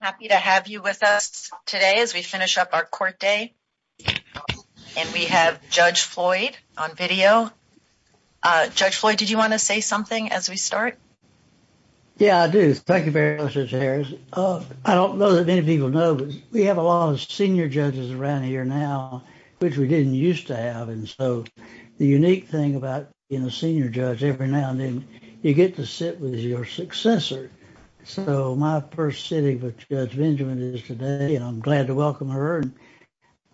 Happy to have you with us today as we finish up our court day. And we have Judge Floyd on video. Judge Floyd, did you want to say something as we start? Yeah, I do. Thank you very much, Judge Harris. I don't know that many people know, but we have a lot of senior judges around here now, which we didn't used to have. And so the unique thing about being a senior judge every now and then, you get to sit with your successor. So my first sitting with Judge Benjamin is today, and I'm glad to welcome her.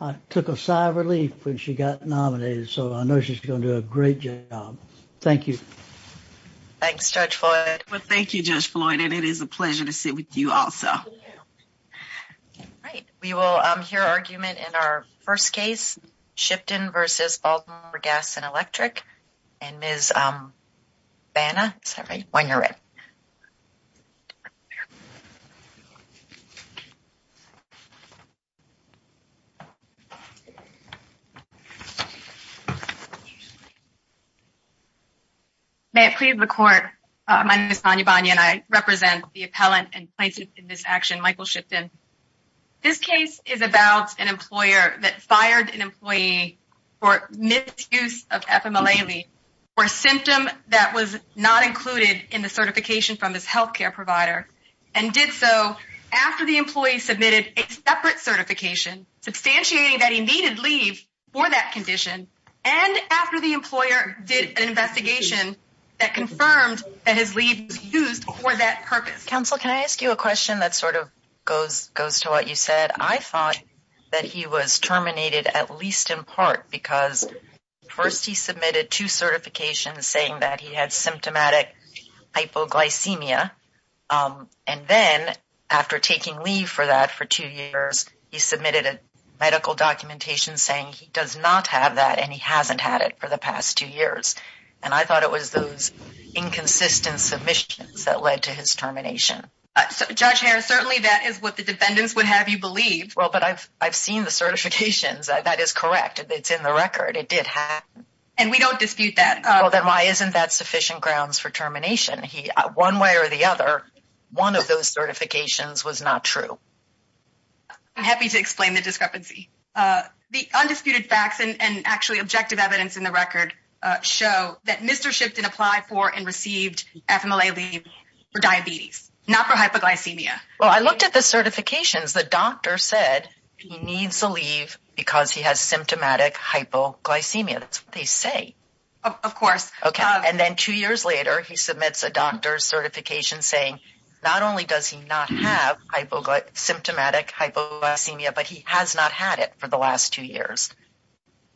I took a sigh of relief when she got nominated, so I know she's going to do a great job. Thank you. Thanks, Judge Floyd. Well, thank you, Judge Floyd, and it is a pleasure to sit with you also. Right. We will hear argument in our first case, Shipton v. Baltimore Gas and Electric. And Ms. Banna, is that right? When you're ready. May it please the court. My name is Sonia Banna, and I represent the appellant and plaintiff in this action, Michael Shipton. This case is about an employer that fired an employee for misuse of FMLA leave for a symptom that was not included in the certification from his healthcare provider, and did so after the employee submitted a separate certification substantiating that he needed leave for that condition, and after the employer did an investigation that confirmed that his leave was used for that purpose. Counsel, can I ask you a question that sort of goes to what you said? I thought that he was terminated at least in part because first he submitted two certifications saying that he had symptomatic hypoglycemia, and then after taking leave for that for two years, he submitted a medical documentation saying he does not have that and he hasn't had it for the past two years. And I thought it was those inconsistent submissions that led to his termination. Judge Harris, certainly that is what the defendants would have you believe. Well, but I've seen the certifications. That is correct. It's in the record. It did happen. And we don't dispute that. Well, then why isn't that sufficient grounds for termination? One way or the other, one of those certifications was not true. I'm happy to explain the discrepancy. The undisputed facts and actually objective evidence in the record show that Mr. Shipton applied for and received FMLA leave for diabetes, not for hypoglycemia. Well, I looked at the certifications. The doctor said he needs to leave because he has symptomatic hypoglycemia. That's what they say. Of course. Okay. And then two years later, he submits a doctor's certification saying not only does he not have symptomatic hypoglycemia, but he has not had it for the last two years.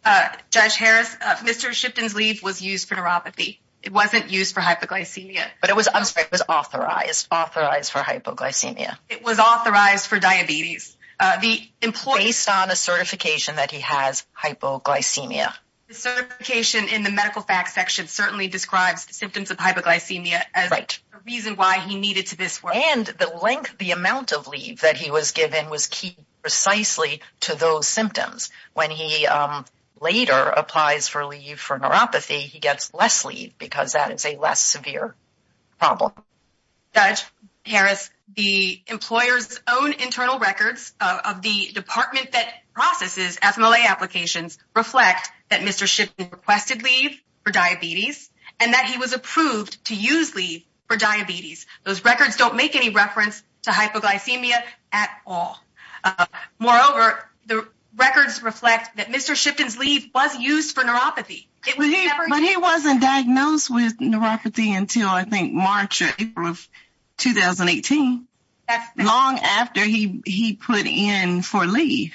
Uh, Judge Harris, uh, Mr. Shipton's leave was used for neuropathy. It wasn't used for hypoglycemia. But it was, I'm sorry, it was authorized, authorized for hypoglycemia. It was authorized for diabetes. Uh, the employer- Based on a certification that he has hypoglycemia. The certification in the medical facts section certainly describes the symptoms of hypoglycemia as the reason why he needed to this work. And the length, the amount of leave that he was given was key precisely to those symptoms. When he, um, later applies for leave for neuropathy, he gets less leave because that is a less severe problem. Judge Harris, the employer's own internal records of the department that processes FMLA applications reflect that Mr. Shipton requested leave for diabetes and that he was approved to use leave for diabetes. Those records don't make any reference to hypoglycemia at all. Moreover, the records reflect that Mr. Shipton's leave was used for neuropathy. It was never- But he wasn't diagnosed with neuropathy until I think March or April of 2018. Long after he, he put in for leave.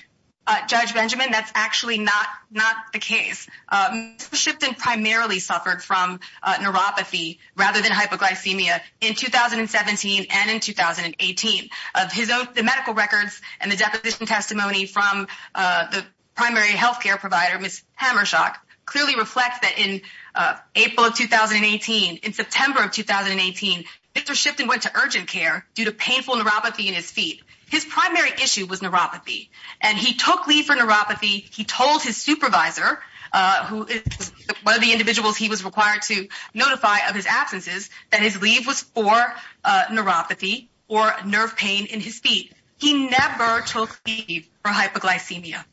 Judge Benjamin, that's actually not, not the case. Um, Mr. Shipton primarily suffered from, uh, neuropathy rather than hypoglycemia in 2017 and in 2018. Of his own, the medical records and the deposition testimony from, uh, the primary healthcare provider, Ms. Hammershock, clearly reflect that in, uh, April of 2018, in September of 2018, Mr. Shipton went to urgent care due to painful neuropathy in his feet. His primary issue was neuropathy and he took leave for neuropathy. He told his supervisor, uh, who is one of the individuals he was required to or nerve pain in his feet. He never took leave for hypoglycemia.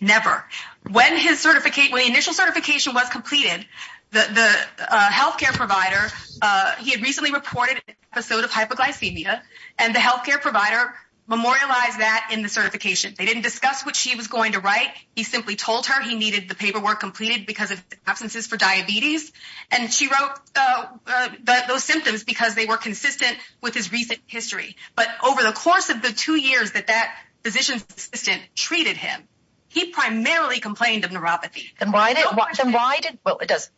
Never. When his certificate, when the initial certification was completed, the, the, uh, healthcare provider, uh, he had recently reported an episode of hypoglycemia and the healthcare provider memorialized that in the certification. They didn't discuss what she was going to write. He simply told her he needed the paperwork completed because of absences for diabetes and she wrote, uh, uh, those symptoms because they were consistent with his recent history. But over the course of the two years that that physician's assistant treated him, he primarily complained of neuropathy. Then why did, then why did, well, it does,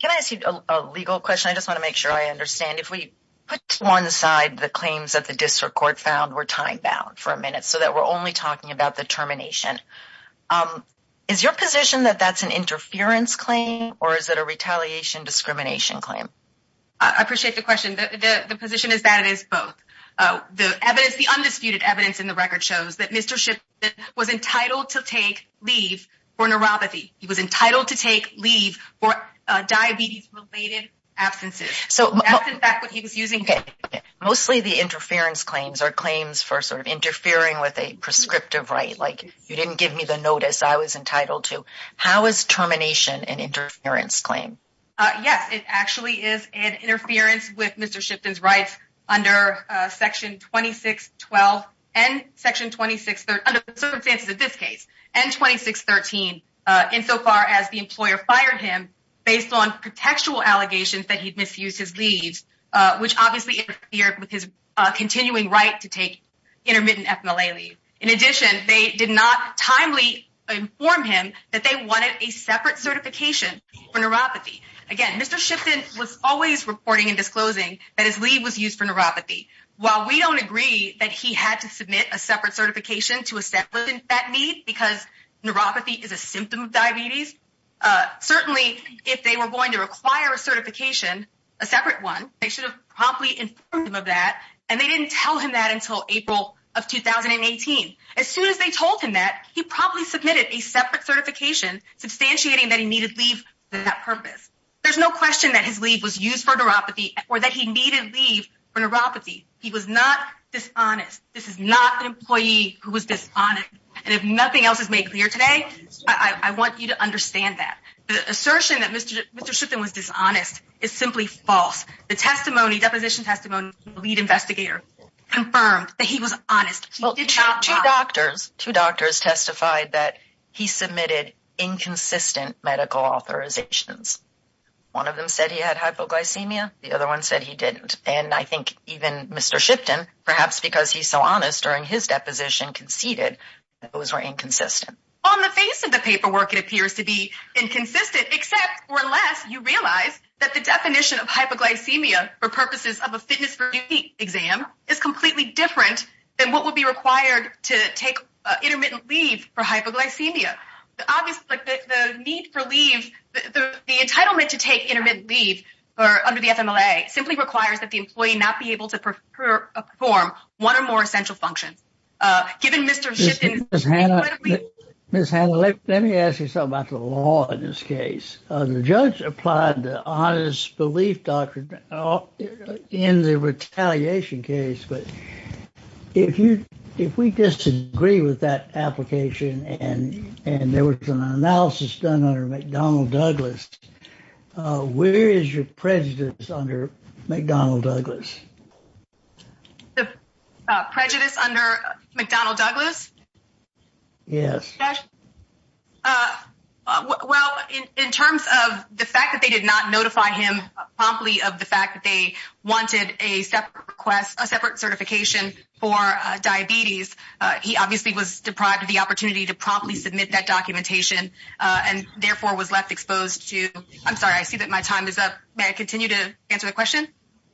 can I ask you a legal question? I just want to make sure I understand. If we put to one side, the claims that the district court found were time bound for a minute so that we're only talking about the termination, um, is your position that that's an interference claim or is it a retaliation discrimination claim? I appreciate the question. The, the, the position is that it is both. Uh, the evidence, the undisputed evidence in the record shows that Mr. Ship was entitled to take leave for neuropathy. He was entitled to take leave for, uh, diabetes related absences. So that's in fact what he was using. Mostly the interference claims are claims for sort of interfering with a prescriptive right. Like you didn't give me the notice I was entitled to. How is termination and interference claim? Uh, yes, it actually is an interference with Mr. Shipton's rights under, uh, section 2612 and section 26, under the circumstances of this case and 2613, uh, in so far as the employer fired him based on contextual allegations that he'd misused his leaves, uh, which obviously interfered with his, uh, continuing right to take intermittent FMLA leave. In addition, they did not timely inform him that they wanted a separate certification for neuropathy. Again, Mr. Shipton was always reporting and disclosing that his leave was used for neuropathy while we don't agree that he had to submit a separate certification to establish that need because neuropathy is a symptom of diabetes. Uh, certainly if they were going to require a certification, a separate one, they should probably inform him of that. And they didn't tell him that until April of 2018. As soon as they told him that he probably submitted a separate certification, substantiating that he needed leave for that purpose. There's no question that his leave was used for neuropathy or that he needed leave for neuropathy. He was not dishonest. This is not an employee who was dishonest. And if nothing else is made clear today, I want you to understand that the assertion that Mr. Shipton was dishonest is simply false. The testimony, deposition testimony of the lead investigator confirmed that he was honest. He did not lie. Two doctors, two doctors testified that he submitted inconsistent medical authorizations. One of them said he had hypoglycemia. The other one said he didn't. And I think even Mr. Shipton, perhaps because he's so honest during his deposition, conceded that those were inconsistent. On the face of the paperwork, it appears to be inconsistent, except or less you realize that the definition of hypoglycemia for purposes of a fitness review exam is completely different than what would be required to take intermittent leave for hypoglycemia. Obviously, the need for leave, the entitlement to take intermittent leave under the FMLA simply requires that the employee not be able to perform one or more essential functions. Given Mr. Shipton's- Ms. Hannah, let me ask you something about the law in this case. The judge applied the honest belief doctrine in the retaliation case. But if we disagree with that application and there was an analysis done under McDonnell Douglas, where is your prejudice under McDonnell Douglas? The prejudice under McDonnell Douglas? Yes. Josh? Well, in terms of the fact that they did not notify him promptly of the fact that they wanted a separate certification for diabetes, he obviously was deprived of the opportunity to promptly submit that documentation and therefore was left exposed to- I'm sorry, I see that my time is up. May I continue to answer the question?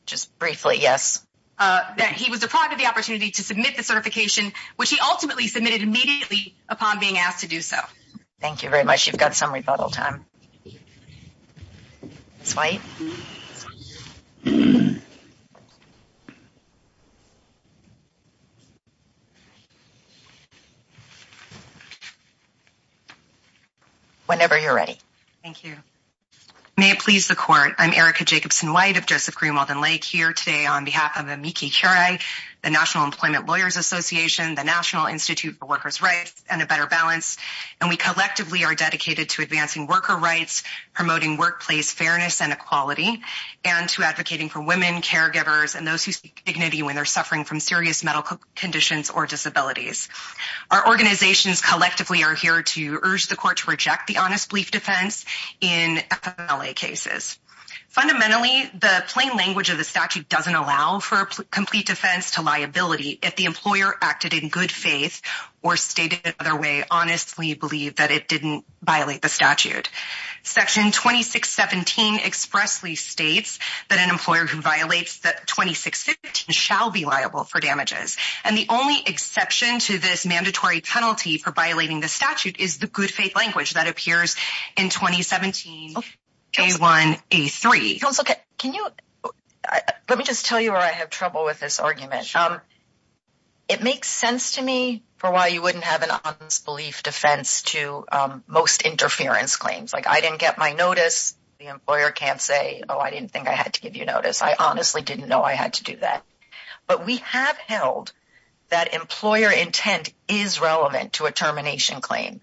Just briefly, yes. That he was deprived of the opportunity to submit the certification, which he ultimately submitted immediately upon being asked to do so. Thank you very much. You've got some rebuttal time. Whenever you're ready. Thank you. May it please the court, I'm Erica Jacobson-White of Joseph Greenwald and Lake here today on behalf of the National Employment Lawyers Association, the National Institute for Workers' Rights, and A Better Balance. And we collectively are dedicated to advancing worker rights, promoting workplace fairness and equality, and to advocating for women, caregivers, and those who seek dignity when they're suffering from serious medical conditions or disabilities. Our organizations collectively are here to urge the court to reject the honest belief defense in FMLA cases. Fundamentally, the plain language of the statute doesn't allow for complete defense to lie if the employer acted in good faith or stated the other way, honestly believe that it didn't violate the statute. Section 2617 expressly states that an employer who violates 2615 shall be liable for damages. And the only exception to this mandatory penalty for violating the statute is the good faith language that appears in 2017 A1, A3. Can you let me just tell you where I have trouble with this argument. It makes sense to me for why you wouldn't have an honest belief defense to most interference claims. Like I didn't get my notice. The employer can't say, oh, I didn't think I had to give you notice. I honestly didn't know I had to do that. But we have held that employer intent is relevant to a termination claim.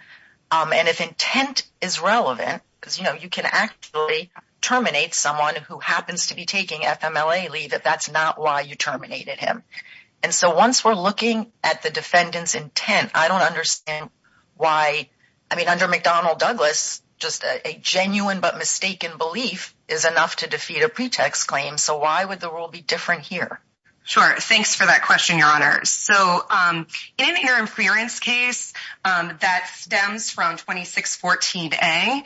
And if intent is relevant, because, you know, you can actually terminate someone who happens to be taking FMLA leave if that's not why you terminated him. And so once we're looking at the defendant's intent, I don't understand why. I mean, under McDonnell Douglas, just a genuine but mistaken belief is enough to defeat a pretext claim. So why would the rule be different here? Sure. Thanks for that question, Your Honors. So in an interference case that stems from 2614A,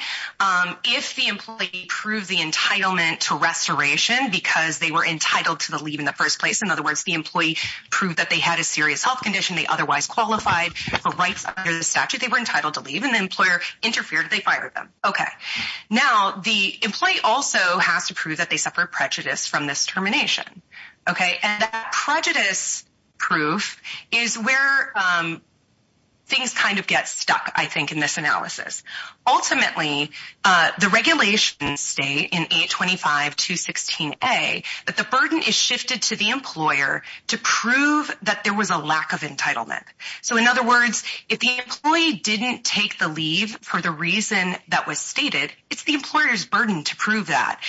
if the employee proved the entitlement to restoration because they were entitled to the leave in the first place, in other words, the employee proved that they had a serious health condition they otherwise qualified for rights under the statute, they were entitled to leave and the employer interfered. They fired them. OK, now the employee also has to prove that they suffered prejudice from this termination. OK, and that prejudice proof is where things kind of get stuck, I think, in this analysis. Ultimately, the regulations state in 825216A that the burden is shifted to the employer to prove that there was a lack of entitlement. So in other words, if the employee didn't take the leave for the reason that was stated, it's the employer's burden to prove that.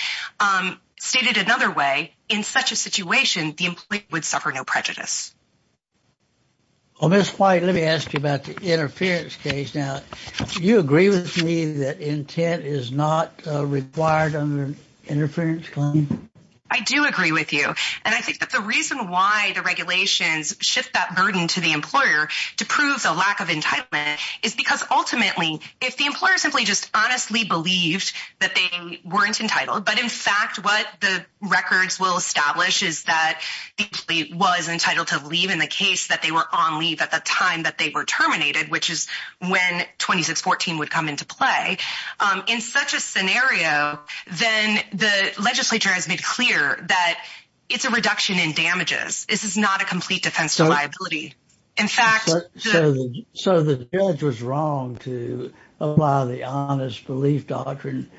Stated another way, in such a situation, the employee would suffer no prejudice. Well, Ms. White, let me ask you about the interference case. Now, do you agree with me that intent is not required under an interference claim? I do agree with you. And I think that the reason why the regulations shift that burden to the employer to prove the lack of entitlement is because ultimately, if the employer simply just honestly believed that they weren't entitled. But in fact, what the records will establish is that the employee was entitled to leave in the case that they were on leave at the time that they were terminated, which is when 2614 would come into play. In such a scenario, then the legislature has made clear that it's a reduction in damages. This is not a complete defense of liability. In fact, so the judge was wrong to apply the honest belief doctrine.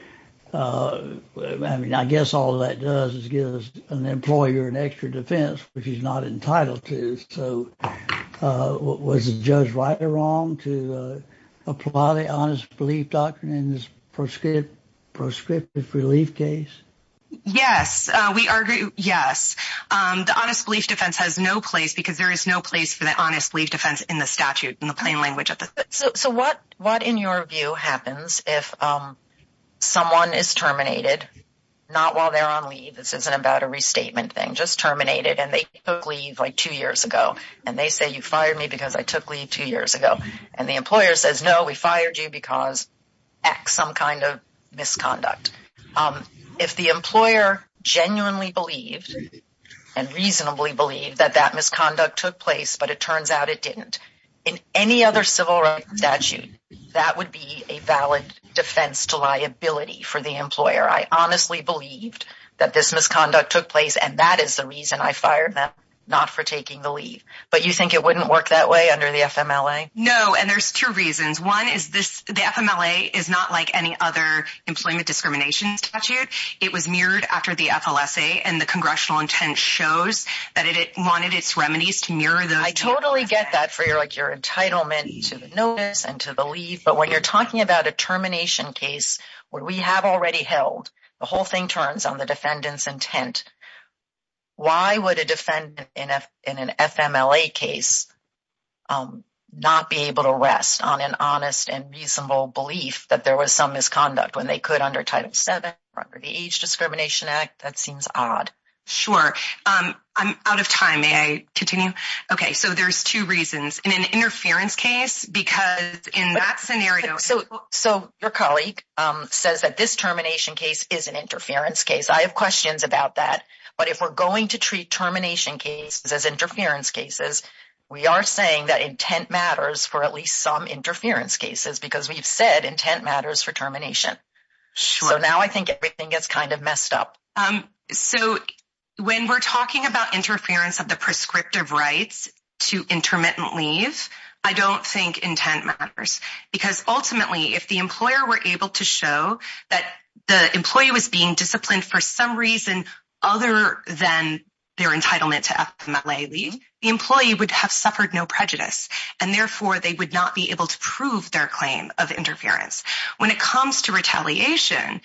I mean, I guess all that does is give us an employer an extra defense, which he's not entitled to. So was the judge right or wrong to apply the honest belief doctrine in this proscriptive relief case? Yes, we are. Yes, the honest belief defense has no place because there is no place for the honest belief defense in the statute in the plain language. So what what, in your view, happens if someone is terminated, not while they're on leave? This isn't about a restatement thing, just terminated. And they took leave like two years ago. And they say, you fired me because I took leave two years ago. And the employer says, no, we fired you because some kind of misconduct. If the employer genuinely believed and reasonably believed that that misconduct took place, but it turns out it didn't in any other civil statute, that would be a valid defense to liability for the employer. I honestly believed that this misconduct took place. And that is the reason I fired them, not for taking the leave. But you think it wouldn't work that way under the FMLA? No. And there's two reasons. The FMLA is not like any other employment discrimination statute. It was mirrored after the FLSA. And the congressional intent shows that it wanted its remedies to mirror those. I totally get that for your entitlement to the notice and to the leave. But when you're talking about a termination case where we have already held, the whole thing turns on the defendant's intent. Why would a defendant in an FMLA case not be able to rest on an honest and reasonable belief that there was some misconduct when they could under Title VII or under the Age Discrimination Act? That seems odd. Sure. I'm out of time. May I continue? OK, so there's two reasons. In an interference case, because in that scenario... So your colleague says that this termination case is an interference case. I have questions about that. But if we're going to treat termination cases as interference cases, we are saying that intent matters for at least some interference cases because we've said intent matters for termination. So now I think everything gets kind of messed up. So when we're talking about interference of the prescriptive rights to intermittent leave, I don't think intent matters. Because ultimately, if the employer were able to show that the employee was being disciplined for some reason other than their entitlement to FMLA leave, the employee would have suffered no prejudice. And therefore, they would not be able to prove their claim of interference. When it comes to retaliation,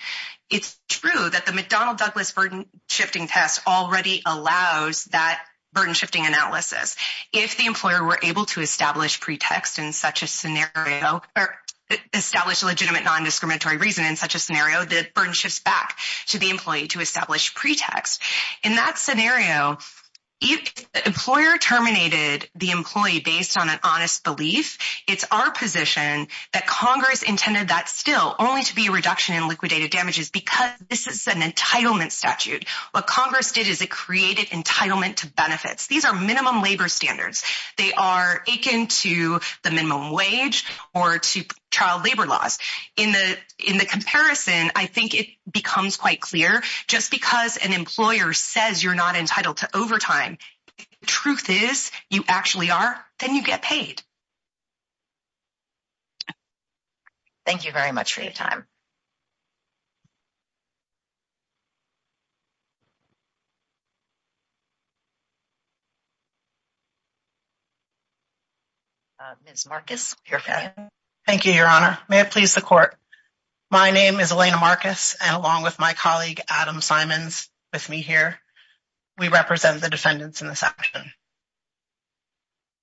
it's true that the McDonnell-Douglas burden-shifting test already allows that burden-shifting analysis. If the employer were able to establish pretext in such a scenario or establish legitimate non-discriminatory reason in such a scenario, the burden shifts back to the employee to establish pretext. In that scenario, if the employer terminated the employee based on an honest belief, it's our position that Congress intended that still only to be a reduction in liquidated damages because this is an entitlement statute. What Congress did is it created entitlement to benefits. These are minimum labor standards. They are akin to the minimum wage or to child labor laws. In the comparison, I think it becomes quite clear just because an employer says you're not entitled to overtime, the truth is you actually are, then you get paid. Thank you very much for your time. Ms. Marcus, your hand. Thank you, Your Honor. May it please the Court. My name is Elena Marcus, and along with my colleague, Adam Simons, with me here, we represent the defendants in this action.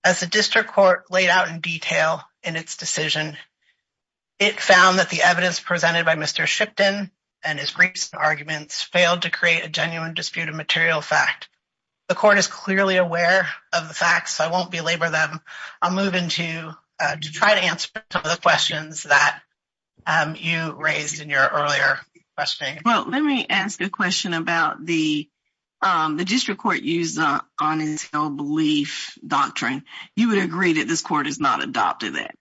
As the District Court laid out in detail in its decision, it found that the evidence presented by Mr. Shipton and his briefs and arguments failed to create a genuine dispute of material fact. The Court is clearly aware of the facts. I won't belabor them. I'll move into to try to answer some of the questions that you raised in your earlier questioning. Let me ask a question about the District Court use of the honest belief doctrine. You would agree that this Court has not adopted that?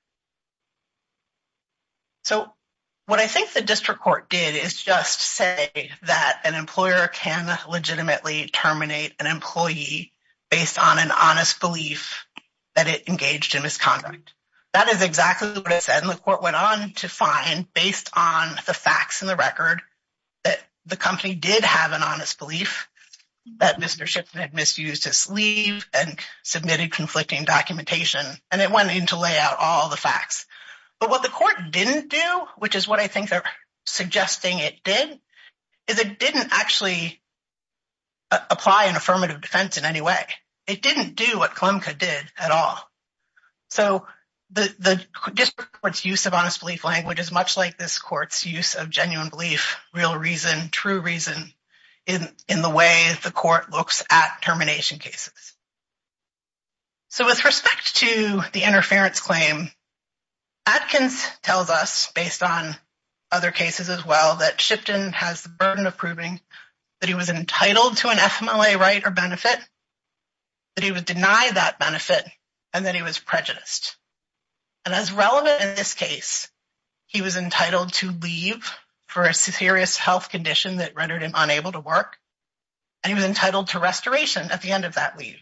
What I think the District Court did is just say that an employer can legitimately terminate an employee based on an honest belief that it engaged in misconduct. That is exactly what it said. The Court went on to find, based on the facts and the record, that the company did have an honest belief that Mr. Shipton had misused his sleeve and submitted conflicting documentation, and it went in to lay out all the facts. But what the Court didn't do, which is what I think they're suggesting it did, is it didn't actually apply an affirmative defense in any way. It didn't do what KLMCA did at all. So the District Court's use of honest belief language is much like this Court's use of genuine belief, real reason, true reason, in the way the Court looks at termination cases. So with respect to the interference claim, Atkins tells us, based on other cases as well, that Shipton has the burden of proving that he was entitled to an FMLA right or benefit, that he would deny that benefit, and that he was prejudiced. And as relevant in this case, he was entitled to leave for a serious health condition that rendered him unable to work, and he was entitled to restoration at the end of that leave.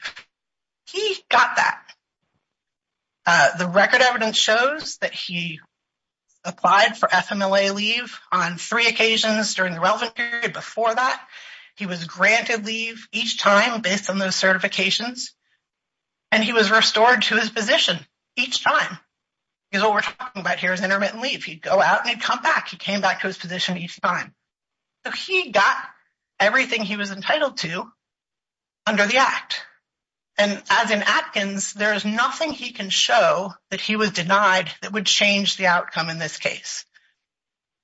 He got that. The record evidence shows that he applied for FMLA leave on three occasions during the relevant period. Before that, he was granted leave each time based on those certifications, and he was restored to his position each time. Because what we're talking about here is intermittent leave. He'd go out and he'd come back. He came back to his position each time. So he got everything he was entitled to under the Act. And as in Atkins, there is nothing he can show that he was denied that would change the outcome in this case.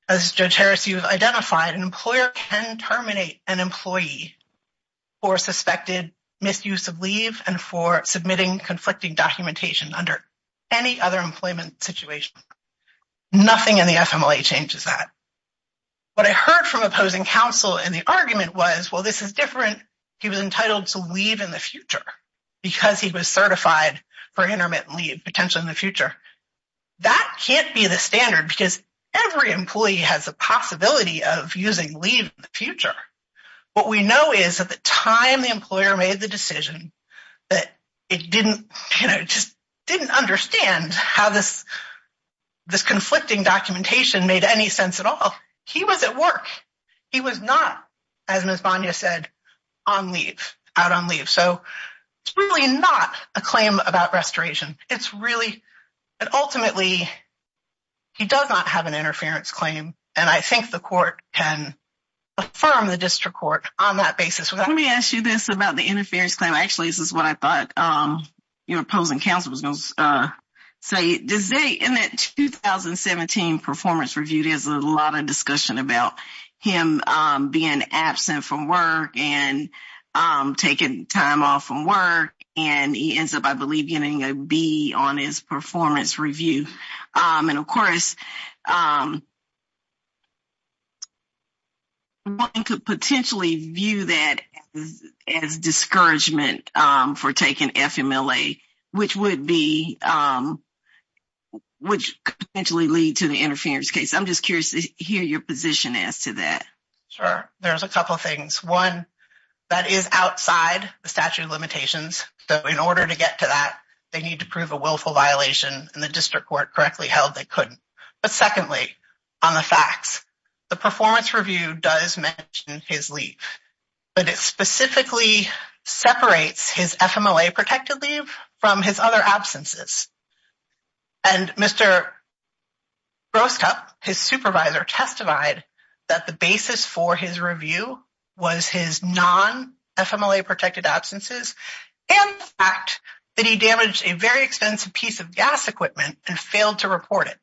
As Judge Harris, you've identified an employer can terminate an employee for suspected misuse of leave and for submitting conflicting documentation under any other employment situation. Nothing in the FMLA changes that. What I heard from opposing counsel in the argument was, well, this is different. He was entitled to leave in the future because he was certified for intermittent leave, potentially in the future. That can't be the standard because every employee has a possibility of using leave in the future. What we know is at the time the employer made the decision that it didn't, you know, just didn't understand how this conflicting documentation made any sense at all. He was at work. He was not, as Ms. Banya said, on leave, out on leave. So it's really not a claim about restoration. It's really, ultimately, he does not have an interference claim. And I think the court can affirm the district court on that basis. Let me ask you this about the interference claim. Actually, this is what I thought your opposing counsel was going to say. In that 2017 performance review, there's a lot of discussion about him being absent from work and taking time off from work. And he ends up, I believe, getting a B on his performance review. And of course, one could potentially view that as discouragement for taking FMLA, which would be, which could potentially lead to the interference case. I'm just curious to hear your position as to that. Sure. There's a couple of things. One, that is outside the statute of limitations. So in order to get to that, they need to prove a willful violation. And the district court correctly held they couldn't. But secondly, on the facts, the performance review does mention his leave. But it specifically separates his FMLA-protected leave from his other absences. And Mr. Groskup, his supervisor, testified that the basis for his review was his non-FMLA-protected absences and the fact that he damaged a very expensive piece of gas equipment and failed to report it.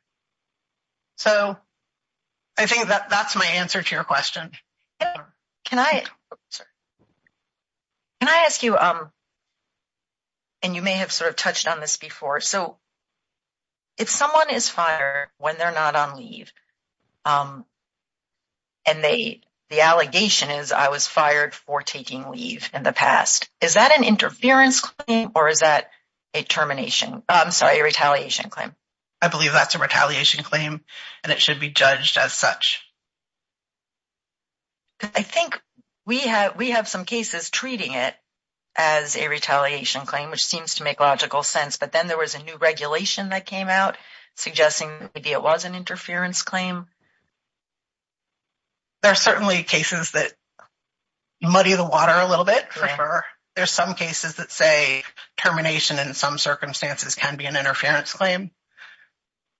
So I think that that's my answer to your question. Can I ask you, and you may have sort of touched on this before. So if someone is fired when they're not on leave and the allegation is, I was fired for taking leave in the past, is that an interference claim or is that a termination? I'm sorry, a retaliation claim. I believe that's a retaliation claim and it should be judged as such. I think we have some cases treating it as a retaliation claim, which seems to make logical sense. But then there was a new regulation that came out suggesting maybe it was an interference claim. There are certainly cases that muddy the water a little bit. There's some cases that say termination in some circumstances can be an interference claim.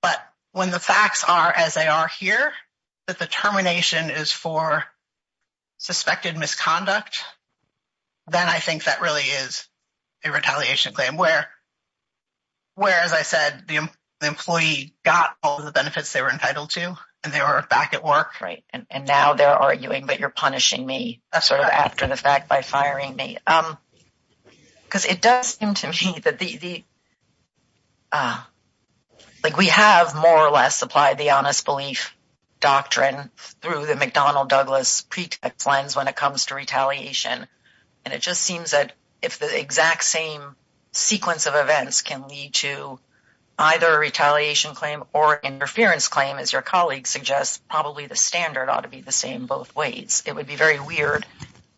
But when the facts are as they are here, that the termination is for suspected misconduct, then I think that really is a retaliation claim where, as I said, the employee got all the benefits they were entitled to and they were back at work. Right. And now they're arguing that you're punishing me after the fact by firing me. Because it does seem to me that we have more or less applied the honest belief doctrine through the McDonnell Douglas pretext lens when it comes to retaliation. And it just seems that if the exact same sequence of events can lead to either a retaliation claim or interference claim, as your colleague suggests, probably the standard ought to be the same both ways. It would be very weird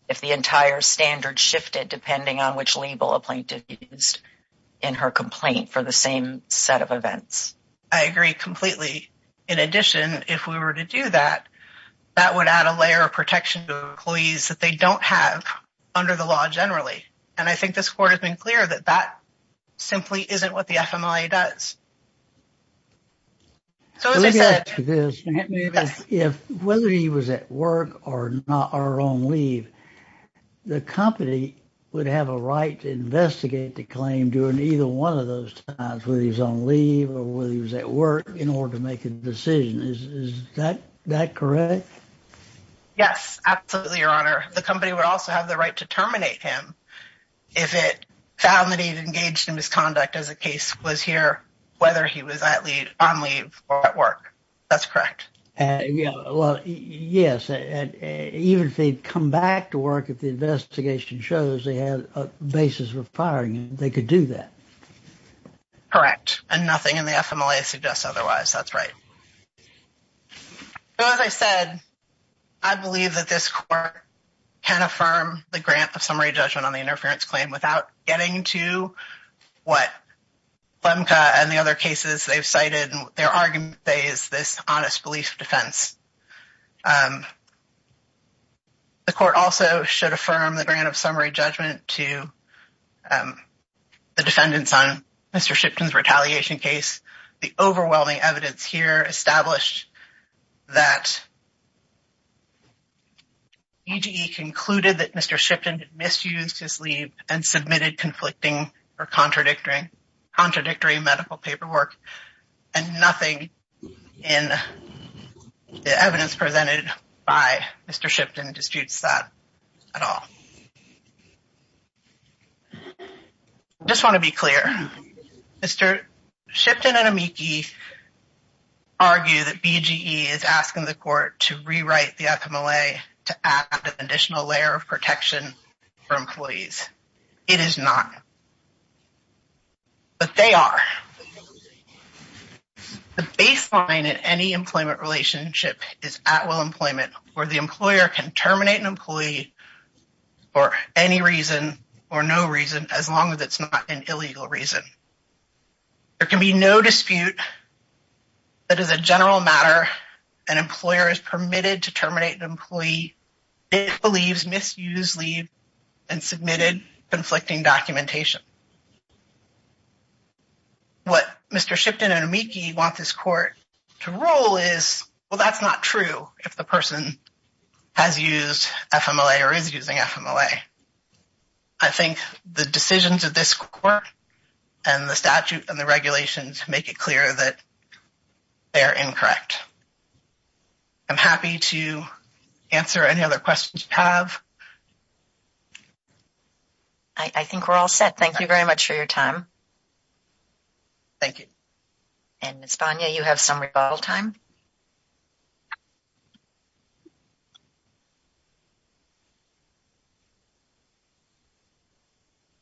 if the entire standard shifted depending on which label a plaintiff used in her complaint for the same set of events. I agree completely. In addition, if we were to do that, that would add a layer of protection to employees that they don't have under the law generally. And I think this court has been clear that that simply isn't what the FMLA does. So, as I said, whether he was at work or not, or on leave, the company would have a right to investigate the claim during either one of those times, whether he's on leave or whether he was at work in order to make a decision. Is that correct? Yes, absolutely, Your Honor. The company would also have the right to terminate him if it found that he'd engaged in misconduct as the case was here. Whether he was on leave or at work. That's correct. Yeah, well, yes. Even if they'd come back to work if the investigation shows they had a basis for firing him, they could do that. Correct. And nothing in the FMLA suggests otherwise. That's right. So, as I said, I believe that this court can affirm the grant of summary judgment on the other cases they've cited and their argument is this honest belief defense. The court also should affirm the grant of summary judgment to the defendants on Mr. Shipton's retaliation case. The overwhelming evidence here established that EGE concluded that Mr. Shipton misused and submitted conflicting or contradictory medical paperwork and nothing in the evidence presented by Mr. Shipton disputes that at all. I just want to be clear. Mr. Shipton and Amiki argue that BGE is asking the court to rewrite the FMLA to add an additional layer of protection for employees. It is not. But they are. The baseline in any employment relationship is at will employment where the employer can terminate an employee for any reason or no reason as long as it's not an illegal reason. There can be no dispute that is a general matter. An employer is permitted to terminate an employee. It believes misused and submitted conflicting documentation. What Mr. Shipton and Amiki want this court to rule is, well, that's not true if the person has used FMLA or is using FMLA. I think the decisions of this court and the statute and the regulations make it clear that they are incorrect. I'm happy to answer any other questions you have. I think we're all set. Thank you very much for your time. Thank you. And Ms. Bonia, you have some rebuttal time.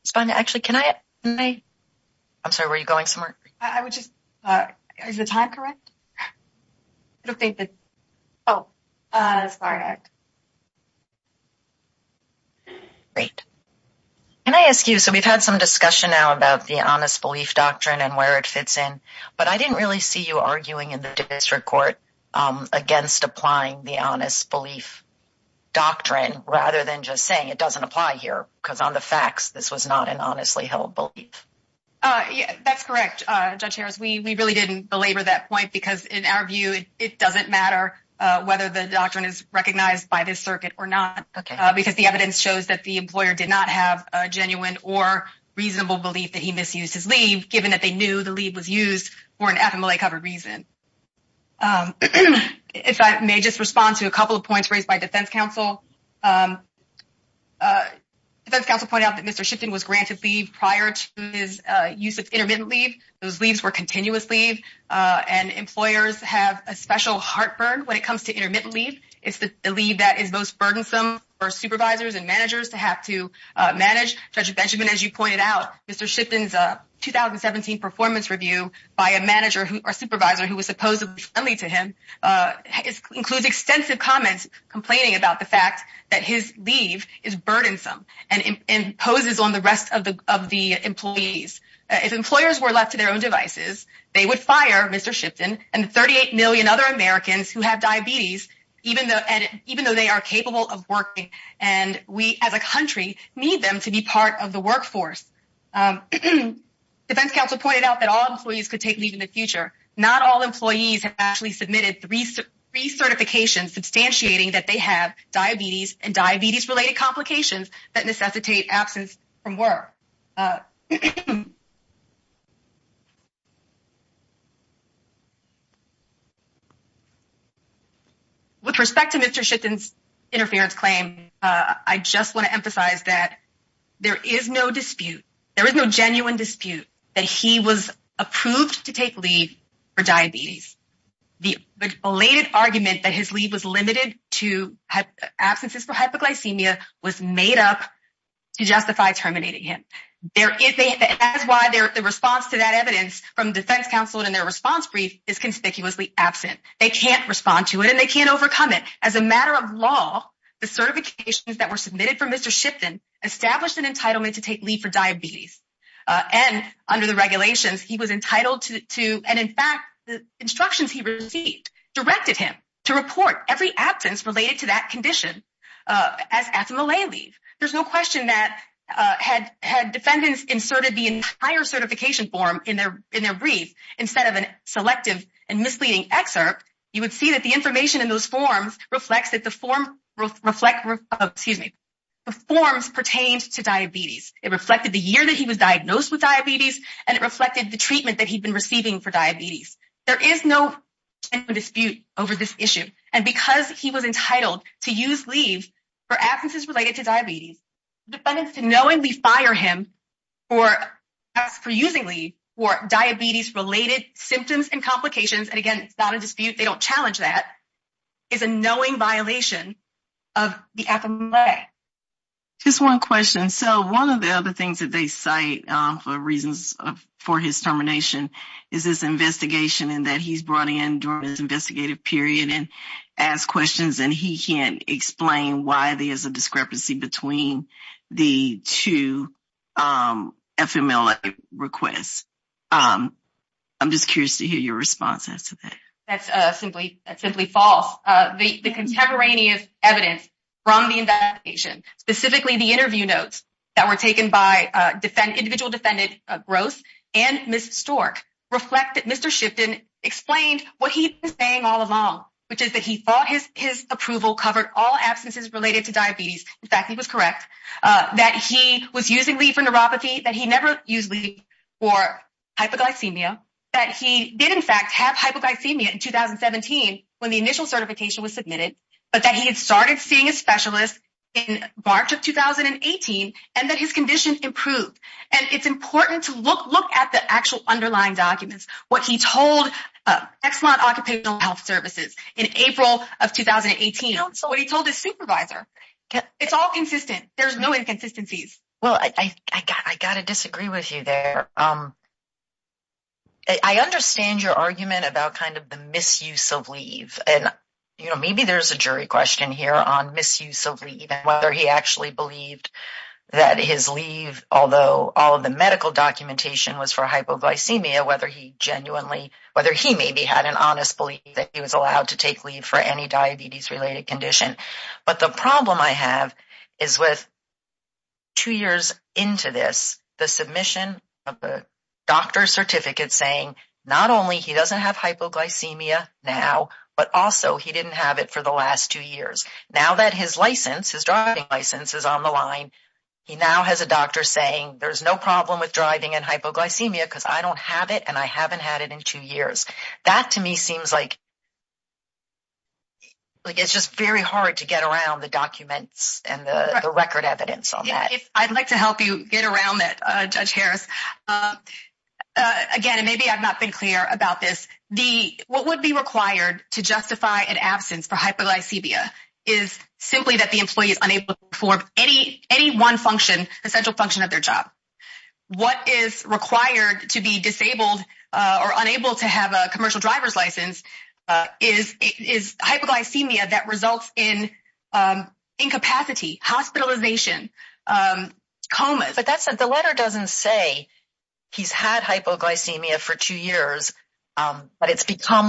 Ms. Bonia, actually, can I? I'm sorry, were you going somewhere? I would just, is the time correct? I don't think that, oh, it's correct. Great. Can I ask you, so we've had some discussion now about the honest belief doctrine and where it fits in, but I didn't really see you arguing in the district court against applying the honest belief doctrine rather than just saying it doesn't apply here because on the facts, this was not an honestly held belief. That's correct, Judge Harris. We really didn't belabor that point because in our view, it doesn't matter whether the doctrine is recognized by this circuit or not because the evidence shows that the employer did not have a genuine or reasonable belief that he misused his leave given that they knew the leave was used for an FMLA covered reason. If I may just respond to a couple of points raised by defense counsel. Defense counsel pointed out that Mr. Shipton was granted leave prior to his use of intermittent leave. Those leaves were continuous leave and employers have a special heartburn when it comes to intermittent leave. It's the leave that is most burdensome for supervisors and managers to have to manage. Judge Benjamin, as you pointed out, Mr. Shipton's 2017 performance review by a manager or supervisor who was supposedly friendly to him includes extensive comments complaining about the fact that his leave is burdensome and imposes on the rest of the employees. If employers were left to their own devices, they would fire Mr. Shipton and 38 million other Americans who have diabetes even though they are capable of working and we as a country need them to be part of the workforce. Defense counsel pointed out that all employees could take leave in the future. Not all employees have actually submitted three certifications substantiating that they have diabetes and diabetes related complications that necessitate absence from work. With respect to Mr. Shipton's interference claim, I just want to emphasize that there is no dispute. There is no genuine dispute that he was approved to take leave for diabetes. The belated argument that his leave was limited to absences for hypoglycemia was made up to justify terminating him. That is why the response to that evidence from defense counsel in their response brief is conspicuously absent. They can't respond to it and they can't overcome it. As a matter of law, the certifications that were submitted for Mr. Shipton established an entitlement to take leave for diabetes. Under the regulations, he was entitled to, and in fact, the instructions he received directed him to report every absence related to that condition as athema lay leave. There's no question that had defendants inserted the entire certification form in their brief instead of a selective and misleading excerpt, you would see that the information in those forms reflects that the forms pertained to diabetes. It reflected the year that he was diagnosed with diabetes and it reflected the treatment that he'd been receiving for diabetes. There is no dispute over this issue. And because he was entitled to use leave for absences related to diabetes, defendants to knowingly fire him for using leave for diabetes-related symptoms and complications, and again, it's not a dispute, they don't challenge that, is a knowing violation of the athema lay. Just one question. So one of the other things that they cite for reasons for his termination is this investigation and that he's brought in during his investigative period and asked questions and he can't explain why there's a discrepancy between the two FMLA requests. I'm just curious to hear your response as to that. That's simply false. The contemporaneous evidence from the investigation, specifically the interview notes that were explained what he was saying all along, which is that he thought his approval covered all absences related to diabetes. In fact, he was correct, that he was using leave for neuropathy, that he never used leave for hypoglycemia, that he did in fact have hypoglycemia in 2017 when the initial certification was submitted, but that he had started seeing a specialist in March of 2018 and that his condition improved. It's important to look at the actual underlying documents. What he told Exelon Occupational Health Services in April of 2018, what he told his supervisor, it's all consistent. There's no inconsistencies. I got to disagree with you there. I understand your argument about the misuse of leave. Maybe there's a jury question here on misuse of leave and whether he actually believed that his leave, although all of the medical documentation was for hypoglycemia, whether he genuinely, whether he maybe had an honest belief that he was allowed to take leave for any diabetes-related condition. But the problem I have is with two years into this, the submission of the doctor's certificate saying not only he doesn't have hypoglycemia now, but also he didn't have it for the last two years. Now that his license, his driving license is on the line, he now has a doctor saying there's no problem with driving and hypoglycemia because I don't have it and I haven't had it in two years. That to me seems like it's just very hard to get around the documents and the record evidence on that. I'd like to help you get around that, Judge Harris. Again, and maybe I've not been clear about this, what would be required to justify an hypoglycemia is simply that the employee is unable to perform any one function, essential function of their job. What is required to be disabled or unable to have a commercial driver's license is hypoglycemia that results in incapacity, hospitalization, comas. But that's not, the letter doesn't say he's had hypoglycemia for two years, but it's doesn't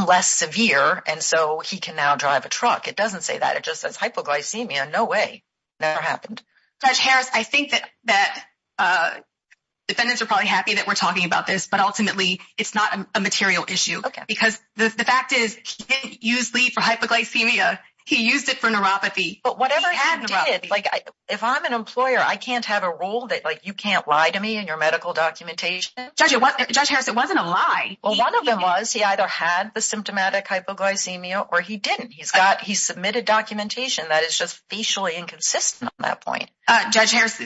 say that. It just says hypoglycemia. No way. Never happened. Judge Harris, I think that defendants are probably happy that we're talking about this, but ultimately it's not a material issue because the fact is he didn't use lead for hypoglycemia. He used it for neuropathy. But whatever he did, like if I'm an employer, I can't have a rule that like you can't lie to me in your medical documentation. Judge Harris, it wasn't a lie. Well, one of them was he either had the symptomatic hypoglycemia or he didn't. He submitted documentation that is just facially inconsistent on that point. Judge Harris,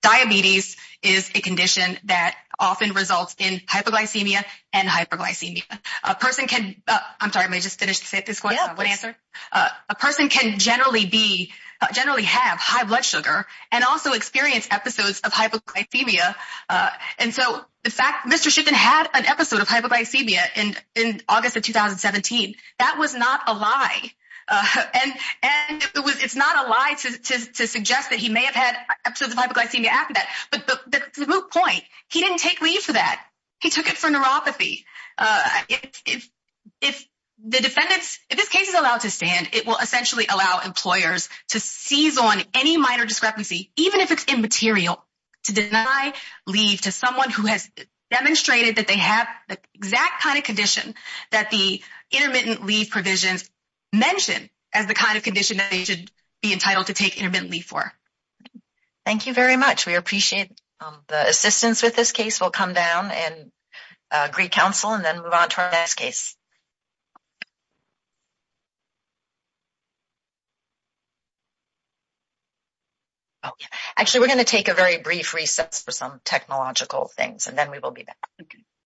diabetes is a condition that often results in hypoglycemia and hyperglycemia. A person can, I'm sorry, may I just finish this question? Yeah, go ahead. A person can generally be, generally have high blood sugar and also experience episodes of hypoglycemia. And so the fact Mr. Shiffman had an episode of hypoglycemia in August of 2017, that was not a lie. And it's not a lie to suggest that he may have had episodes of hypoglycemia after that. But the root point, he didn't take lead for that. He took it for neuropathy. If the defendants, if this case is allowed to stand, it will essentially allow employers to seize on any minor discrepancy, even if it's immaterial, to deny leave to someone who has demonstrated that they have the exact kind of condition that the intermittent leave provisions mention as the kind of condition that they should be entitled to take intermittent leave for. Thank you very much. We appreciate the assistance with this case. We'll come down and greet counsel and then move on to our next case. Oh, actually, we're going to take a very brief recess for some technological things and then we will be back.